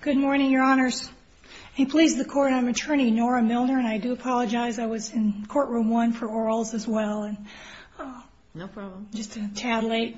Good morning, Your Honors. I'm attorney Nora Milner, and I do apologize. I was in courtroom one for Oral's as well, and just a tad late.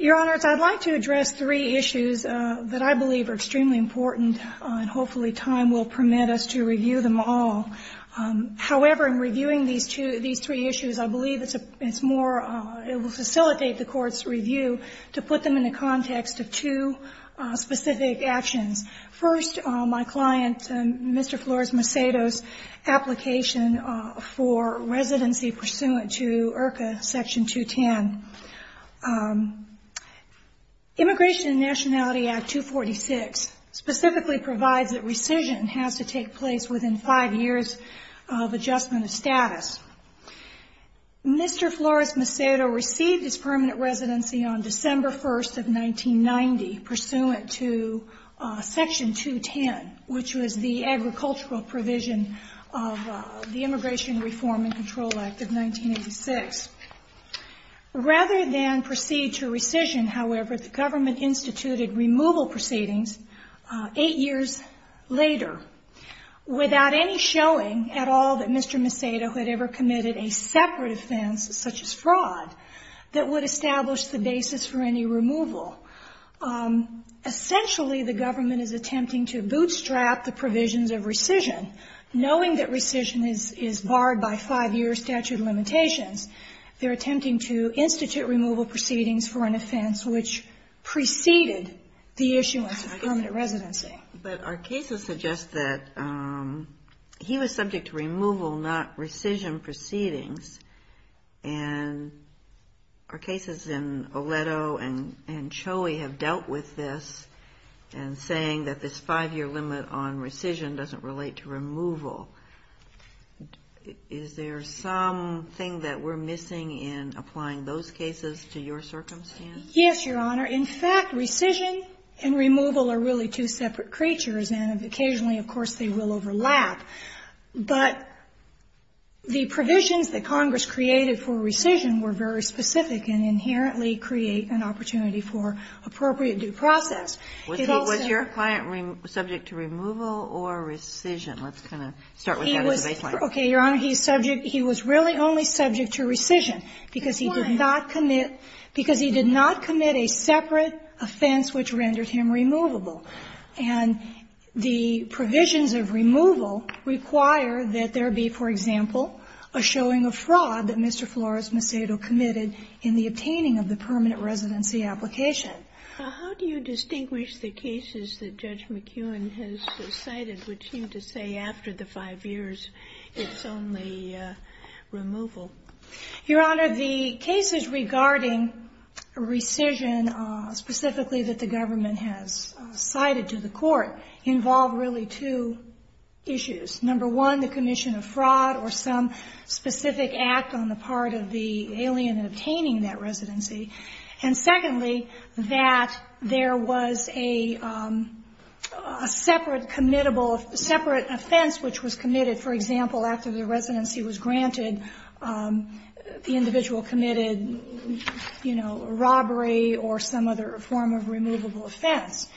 Your Honors, I'd like to address three issues that I believe are extremely important and hopefully time will permit us to review them all. However, in reviewing these two, these three issues, I believe it's more, it will facilitate the Court's review to put them in the context of two specific actions. First, my client, Mr. Flores-Macedo's application for residency pursuant to IRCA Section 210. Immigration and Nationality Act 246 specifically provides that rescission has to take place within five years of adjustment of status. Mr. Flores-Macedo received his permanent residency on December 1st of 1990 pursuant to Section 210, which was the agricultural provision of the Immigration Reform and Control Act of 1986. Rather than proceed to rescission, however, the government instituted removal proceedings eight years later without any showing at all that Mr. Macedo had ever committed a separate offense such as fraud that would establish the basis for any removal. Essentially, the government is attempting to bootstrap the provisions of rescission, knowing that rescission is barred by five-year statute of limitations. They're attempting to institute removal proceedings for an offense which preceded the issuance of permanent residency. But our cases suggest that he was subject to removal, not rescission proceedings. And our cases in Oleto and Choey have dealt with this and saying that this five-year limit on rescission doesn't relate to removal. Is there something that we're missing in applying those cases to your circumstance? Yes, Your Honor. In fact, rescission and removal are really two separate creatures, and occasionally, of course, they will overlap. But the provisions that Congress created for rescission were very specific and inherently create an opportunity for appropriate due process. Was your client subject to removal or rescission? Let's kind of start with that as a baseline. Okay, Your Honor, he was really only subject to rescission because he did not commit a separate offense which rendered him removable. And the provisions of removal require that there be, for example, a showing of fraud that Mr. Flores Macedo committed in the obtaining of the permanent residency application. How do you distinguish the cases that Judge McEwen has cited which seem to say after the five years it's only removal? Your Honor, the cases regarding rescission specifically that the government has cited to the court involve really two issues. Number one, the commission of fraud or some specific act on the part of the alien obtaining that residency. And secondly, that there was a separate committable, separate offense which was committed. For example, after the residency was granted, the individual committed, you know, a robbery or some other form of removable offense.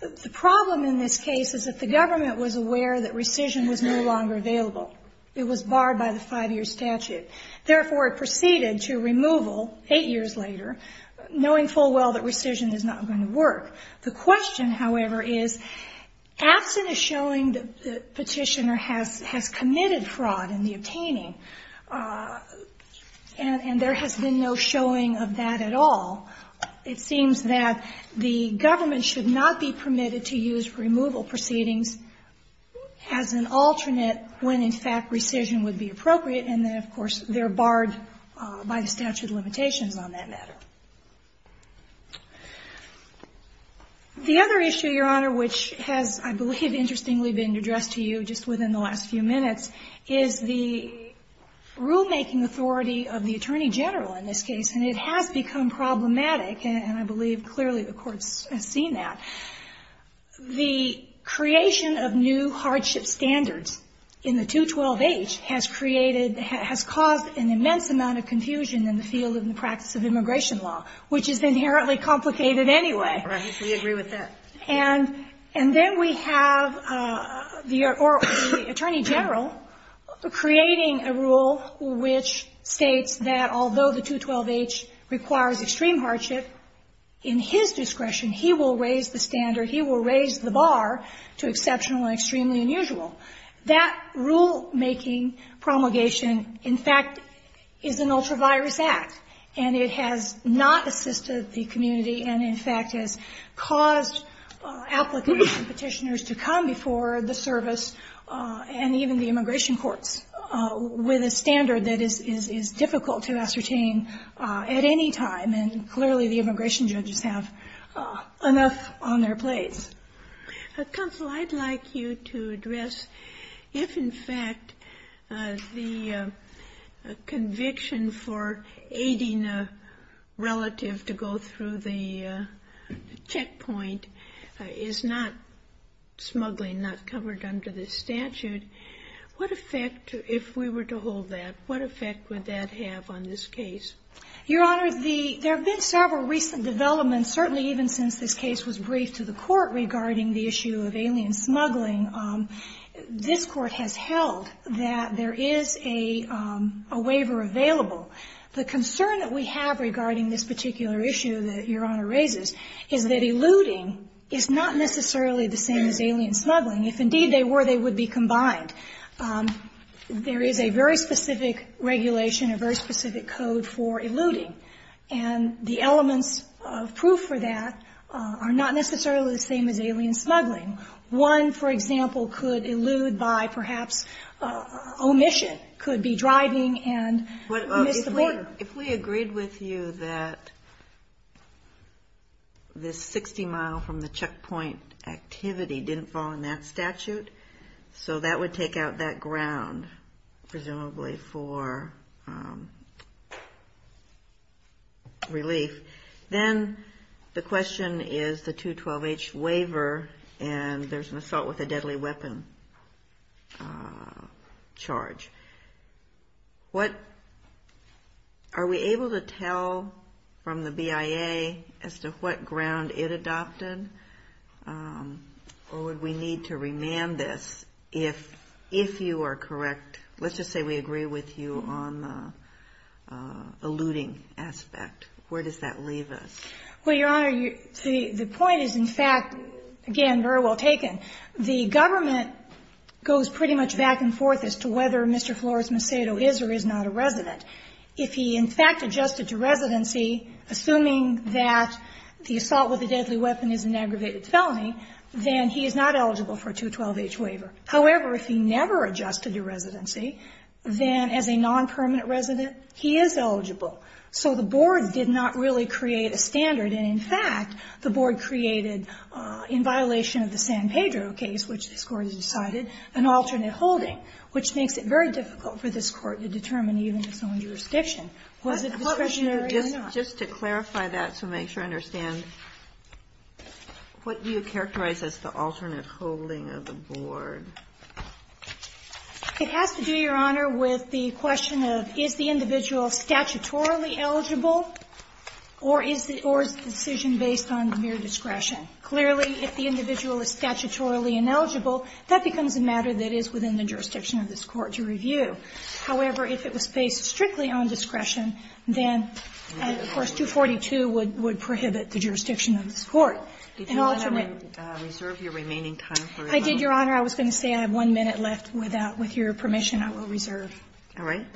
The problem in this case is that the government was aware that rescission was no longer available. It was barred by the five-year statute. Therefore, it proceeded to removal eight years later, knowing full well that rescission is not going to work. The question, however, is absent a showing that the petitioner has committed fraud in the obtaining, and there has been no showing of that at all. It seems that the government should not be permitted to use removal proceedings as an alternate when, in fact, rescission would be appropriate. And then, of course, they're barred by the statute of limitations on that matter. The other issue, Your Honor, which has, I believe, interestingly been addressed to you just within the last few minutes, is the rulemaking authority of the attorney general in this case. And it has become problematic, and I believe clearly the court has seen that. The creation of new hardship standards in the 212H has created, has caused an immense amount of confusion in the field of the practice of immigration law, which is inherently complicated anyway. Kagan. Right. We agree with that. And then we have the attorney general creating a rule which states that although the 212H requires extreme hardship, in his discretion, he will raise the standard, he will raise the bar to exceptional and extremely unusual. That rulemaking promulgation, in fact, is an ultra-virus act, and it has not assisted the community and, in fact, has caused applicants and petitioners to come before the service and even the immigration courts with a standard that is difficult to ascertain at any time. And clearly the immigration judges have enough on their plates. Counsel, I'd like you to address if, in fact, the conviction for aiding a relative to go through the checkpoint is not smuggling, not covered under the statute, what effect, if we were to hold that, what effect would that have on this case? Your Honor, there have been several recent developments, certainly even since this case was briefed to the court, regarding the issue of alien smuggling. This Court has held that there is a waiver available. The concern that we have regarding this particular issue that Your Honor raises is that eluding is not necessarily the same as alien smuggling. If, indeed, they were, they would be combined. There is a very specific regulation, a very specific code for eluding. And the elements of proof for that are not necessarily the same as alien smuggling. One, for example, could elude by perhaps omission, could be driving and miss the border. If we agreed with you that this 60-mile from the checkpoint activity didn't fall in that statute, so that would take out that ground presumably for relief, then the question is the 212H waiver and there's an assault with a deadly weapon charge. What, are we able to tell from the BIA as to what ground it adopted, or would we need to remand this if you are correct, let's just say we agree with you on the eluding aspect. Where does that leave us? Well, Your Honor, the point is, in fact, again, very well taken. The government goes pretty much back and forth as to whether Mr. Flores Macedo is or is not a resident. If he, in fact, adjusted to residency, assuming that the assault with a deadly weapon is an aggravated felony, then he is not eligible for a 212H waiver. However, if he never adjusted to residency, then as a non-permanent resident, he is eligible. So the board did not really create a standard, and in fact, the board created, in violation of the San Pedro case, which this Court has decided, an alternate holding, which makes it very difficult for this Court to determine even its own jurisdiction. Was it discretionary or not? Just to clarify that to make sure I understand, what do you characterize as the alternate holding of the board? It has to do, Your Honor, with the question of, is the individual statutorily eligible, or is the decision based on mere discretion? Clearly, if the individual is statutorily ineligible, that becomes a matter that is within the jurisdiction of this Court to review. However, if it was based strictly on discretion, then, of course, 242 would prohibit the jurisdiction of this Court. And alternate. I did, Your Honor. I was going to say I have one minute left. With your permission, I will reserve. All right.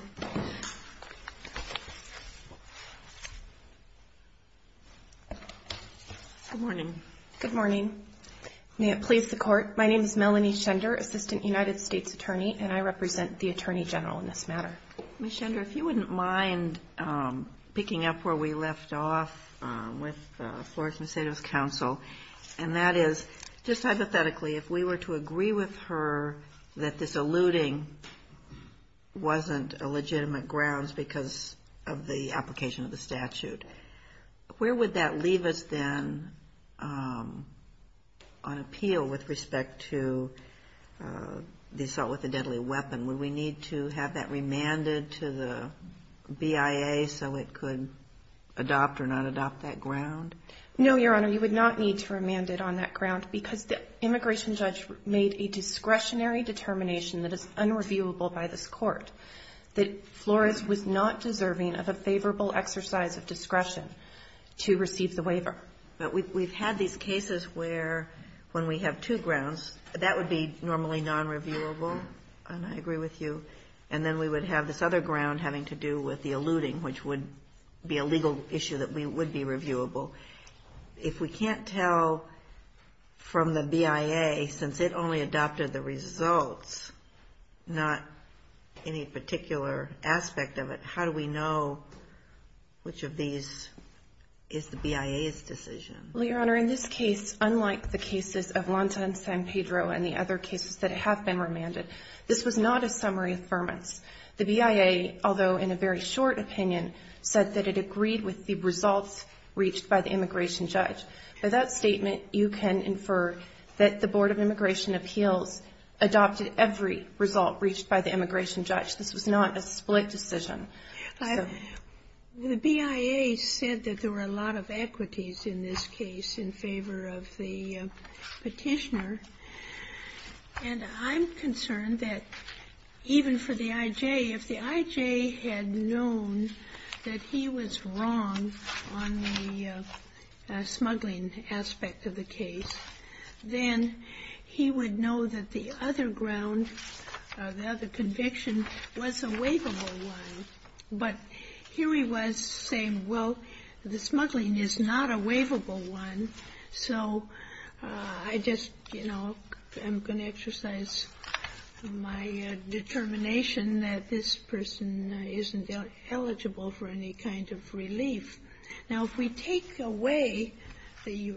Good morning. Good morning. May it please the Court. My name is Melanie Schender, Assistant United States Attorney, and I represent the Attorney General in this matter. Ms. Schender, if you wouldn't mind picking up where we left off with Flores-Macedo's counsel, and that is, just hypothetically, if we were to agree with her that this eluding wasn't a legitimate grounds because of the application of the statute, where would that leave us then on appeal with respect to the assault with a deadly weapon? Would we need to have that remanded to the BIA so it could adopt or not adopt that ground? No, Your Honor. You would not need to remand it on that ground because the immigration judge made a discretionary determination that is unreviewable by this Court, that Flores was not deserving of a favorable exercise of discretion to receive the waiver. But we've had these cases where, when we have two grounds, that would be normally nonreviewable, and I agree with you, and then we would have this other ground having to do with the eluding, which would be a legal issue that would be reviewable. If we can't tell from the BIA, since it only adopted the results, not any particular aspect of it, how do we know which of these is the BIA's decision? Well, Your Honor, in this case, unlike the cases of Lonta and San Pedro and the other opinion, said that it agreed with the results reached by the immigration judge. By that statement, you can infer that the Board of Immigration Appeals adopted every result reached by the immigration judge. This was not a split decision. The BIA said that there were a lot of equities in this case in favor of the Petitioner, and I'm concerned that even for the I.J., if the I.J. had known that he was wrong on the smuggling aspect of the case, then he would know that the other ground, the other conviction, was a waivable one. But here he was saying, well, the smuggling is not a waivable one, so I just, you know, I'm going to exercise my determination that this person isn't eligible for any kind of relief. Now, if we take away the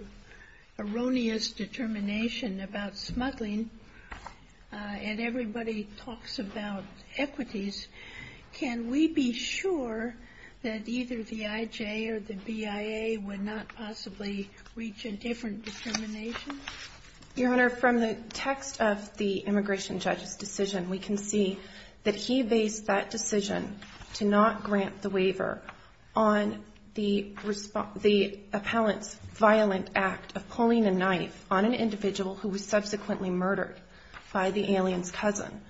erroneous determination about smuggling, and everybody talks about equities, can we be sure that either the I.J. or the BIA would not possibly reach a different determination? Your Honor, from the text of the immigration judge's decision, we can see that he based that decision to not grant the waiver on the appellant's violent act of pulling a knife on an individual who was subsequently murdered by the alien's cousin.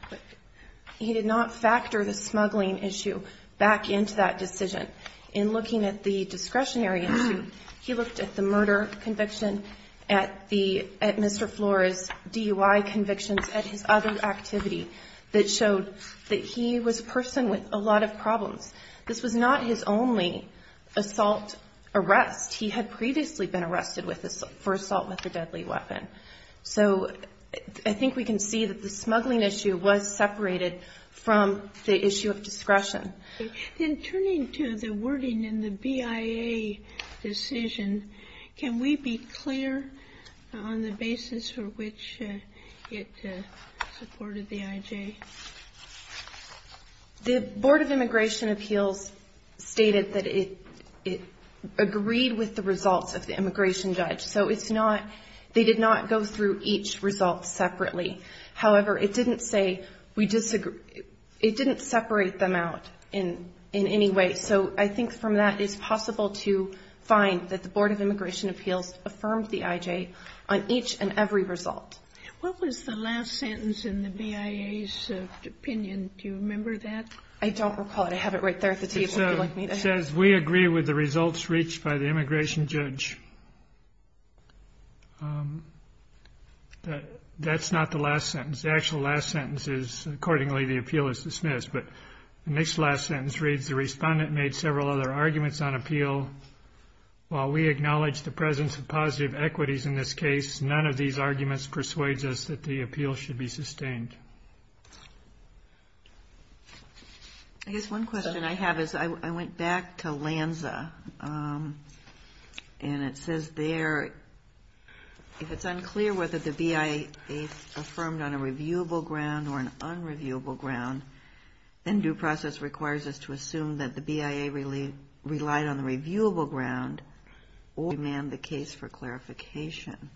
He did not factor the smuggling issue back into that decision. In looking at the discretionary issue, he looked at the murder conviction, at Mr. Flores' DUI convictions, at his other activity that showed that he was a person with a lot of problems. This was not his only assault arrest. He had previously been arrested for assault with a deadly weapon. So I think we can see that the smuggling issue was separated from the issue of discretion. Then turning to the wording in the BIA decision, can we be clear on the basis for which it supported the I.J.? The Board of Immigration Appeals stated that it agreed with the results of the immigration judge. So it's not they did not go through each result separately. However, it didn't separate them out in any way. So I think from that it's possible to find that the Board of Immigration Appeals affirmed the I.J. on each and every result. What was the last sentence in the BIA's opinion? Do you remember that? I don't recall it. I have it right there at the table if you'd like me to have it. It says, we agree with the results reached by the immigration judge. That's not the last sentence. The actual last sentence is, accordingly, the appeal is dismissed. But the next last sentence reads, the respondent made several other arguments on appeal. While we acknowledge the presence of positive equities in this case, none of these arguments persuade us that the appeal should be sustained. I guess one question I have is, I went back to Lanza, and it says there, if it's unclear whether the BIA affirmed on a reviewable ground or an unreviewable ground, then due process requires us to assume that the BIA relied on the reviewable ground or demand the case for clarification.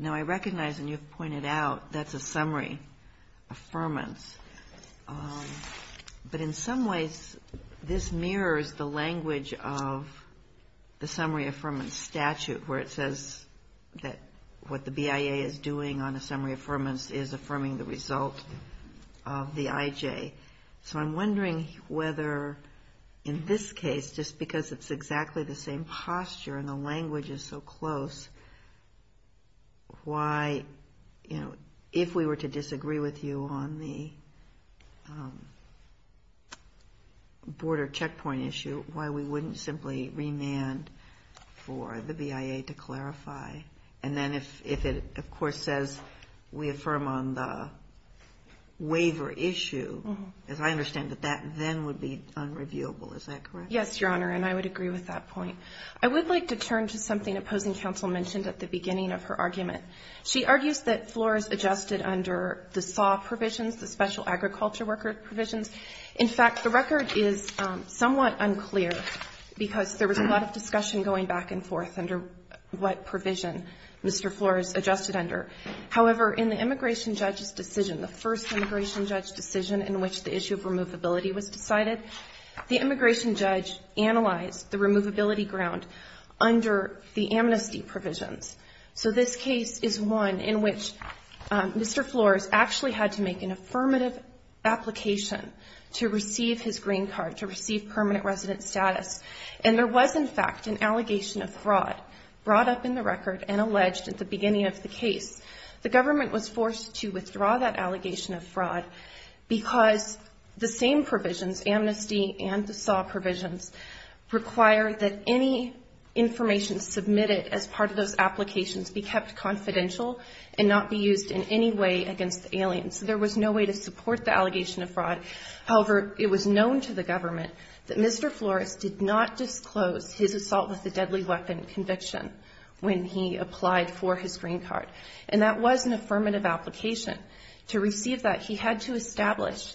Now I recognize, and you've pointed out, that's a summary. Affirmance. But in some ways, this mirrors the language of the summary affirmance statute, where it says that what the BIA is doing on a summary affirmance is affirming the result of the IJ. So I'm wondering whether, in this case, just because it's exactly the same posture and the language is so close, why, you know, if we were to disagree with you on the border checkpoint issue, why we wouldn't simply remand for the BIA to clarify? And then if it, of course, says we affirm on the waiver issue, as I understand that that then would be unreviewable, is that correct? Yes, Your Honor, and I would agree with that point. I would like to turn to something opposing counsel mentioned at the beginning of her argument. She argues that Flores adjusted under the SAW provisions, the Special Agriculture Worker provisions. In fact, the record is somewhat unclear because there was a lot of discussion going back and forth under what provision Mr. Flores adjusted under. However, in the immigration judge's decision, the first immigration judge decision in which the issue of removability was decided, the immigration judge analyzed the removability ground under the amnesty provisions. So this case is one in which Mr. Flores actually had to make an affirmative application to receive his green card, to receive permanent resident status, and there was, in fact, an allegation of fraud brought up in the record and alleged at the beginning of the case. The government was forced to withdraw that allegation of fraud because the same provisions, amnesty and the SAW provisions, require that any information submitted as part of those applications be kept confidential and not be used in any way against the aliens. There was no way to support the allegation of fraud. However, it was known to the government that Mr. Flores did not disclose his assault with a deadly weapon conviction when he applied for his green card. And that was an affirmative application. To receive that, he had to establish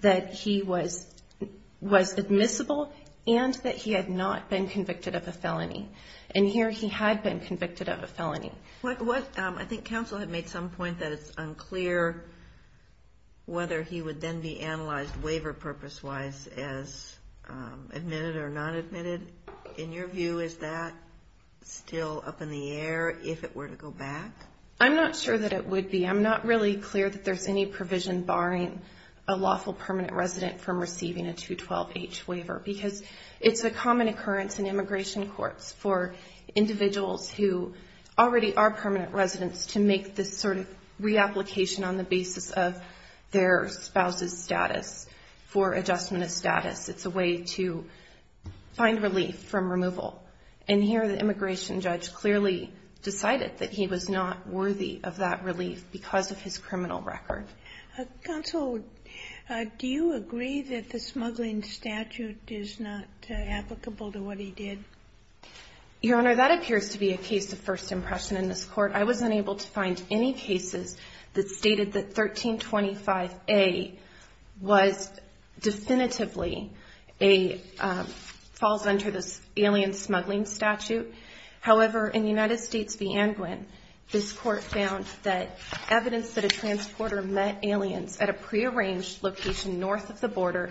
that he was admissible and that he had not been convicted of a felony. And here he had been convicted of a felony. I think counsel had made some point that it's unclear whether he would then be analyzed waiver purpose-wise as admitted or not admitted. In your view, is that still up in the air if it were to go back? I'm not sure that it would be. I'm not really clear that there's any provision barring a lawful permanent resident from receiving a 212H waiver because it's a common occurrence in immigration courts for individuals who already are permanent residents to make this sort of reapplication on the basis of their spouse's status for adjustment of status. It's a way to find relief from removal. And here the immigration judge clearly decided that he was not worthy of that relief because of his criminal record. Counsel, do you agree that the smuggling statute is not applicable to what he did? Your Honor, that appears to be a case of first impression in this Court. I was unable to find any cases that stated that 1325A was definitively a falls under this alien smuggling statute. However, in the United States v. Angwin, this Court found that evidence that a transporter met aliens at a prearranged location north of the border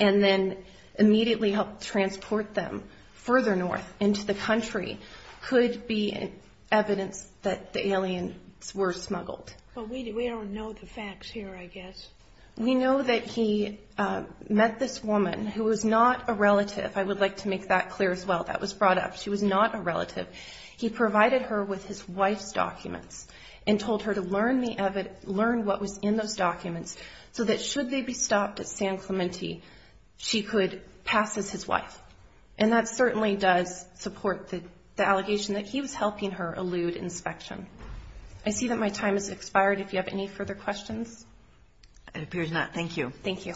and then immediately helped transport them further north into the country could be evidence that the aliens were smuggled. But we don't know the facts here, I guess. We know that he met this woman who was not a relative. I would like to make that clear as well. That was brought up. She was not a relative. He provided her with his wife's documents and told her to learn what was in those documents so that should they be stopped at San Clemente, she could pass as his wife. And that certainly does support the allegation that he was helping her elude inspection. I see that my time has expired. If you have any further questions? It appears not. Thank you. Thank you.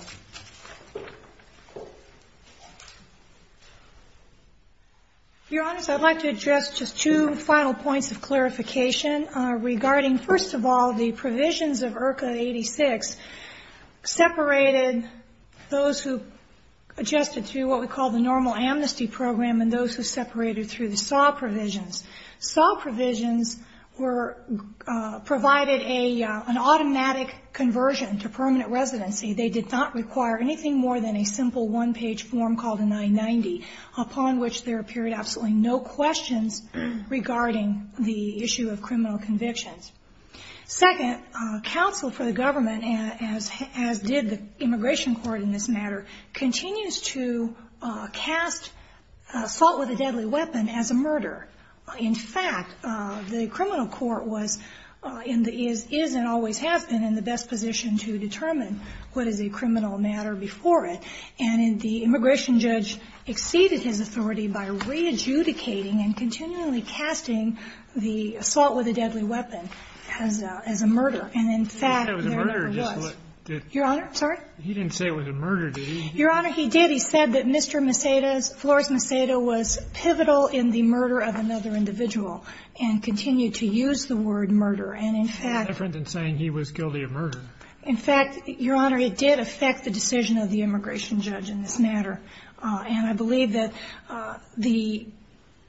Your Honors, I'd like to address just two final points of clarification regarding, first of all, the provisions of IRCA 86 separated those who adjusted through what we call the normal amnesty program and those who separated through the SAW provisions. SAW provisions provided an automatic conversion to permanent residency. They did not require anything more than a simple one-page form called a 990, upon which there appeared absolutely no questions regarding the issue of criminal convictions. Second, counsel for the government, as did the Immigration Court in this matter, continues to cast assault with a deadly weapon as a murder. In fact, the Criminal Court was in the, is and always have been in the best position to determine what is a criminal matter before it. And the Immigration Judge exceeded his authority by re-adjudicating and continually casting the assault with a deadly weapon as a murder. And in fact, there never was. He didn't say it was a murder. Your Honor? Sorry? He didn't say it was a murder, did he? Your Honor, he did. He said that Mr. Maceda's, Flores Maceda, was pivotal in the murder of another individual and continued to use the word murder. And in fact — That's different than saying he was guilty of murder. In fact, Your Honor, it did affect the decision of the Immigration Judge in this matter. And I believe that the,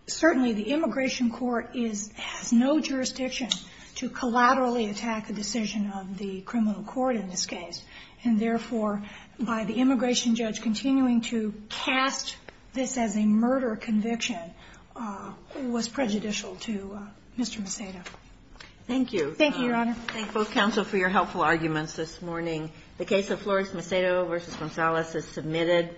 certainly the Immigration Court is, has no jurisdiction to collaterally attack a decision of the Criminal Court in this case. And therefore, by the Immigration Judge continuing to cast this as a murder conviction was prejudicial to Mr. Maceda. Thank you. Thank you, Your Honor. I thank both counsel for your helpful arguments this morning. The case of Flores Maceda v. Gonzales is submitted.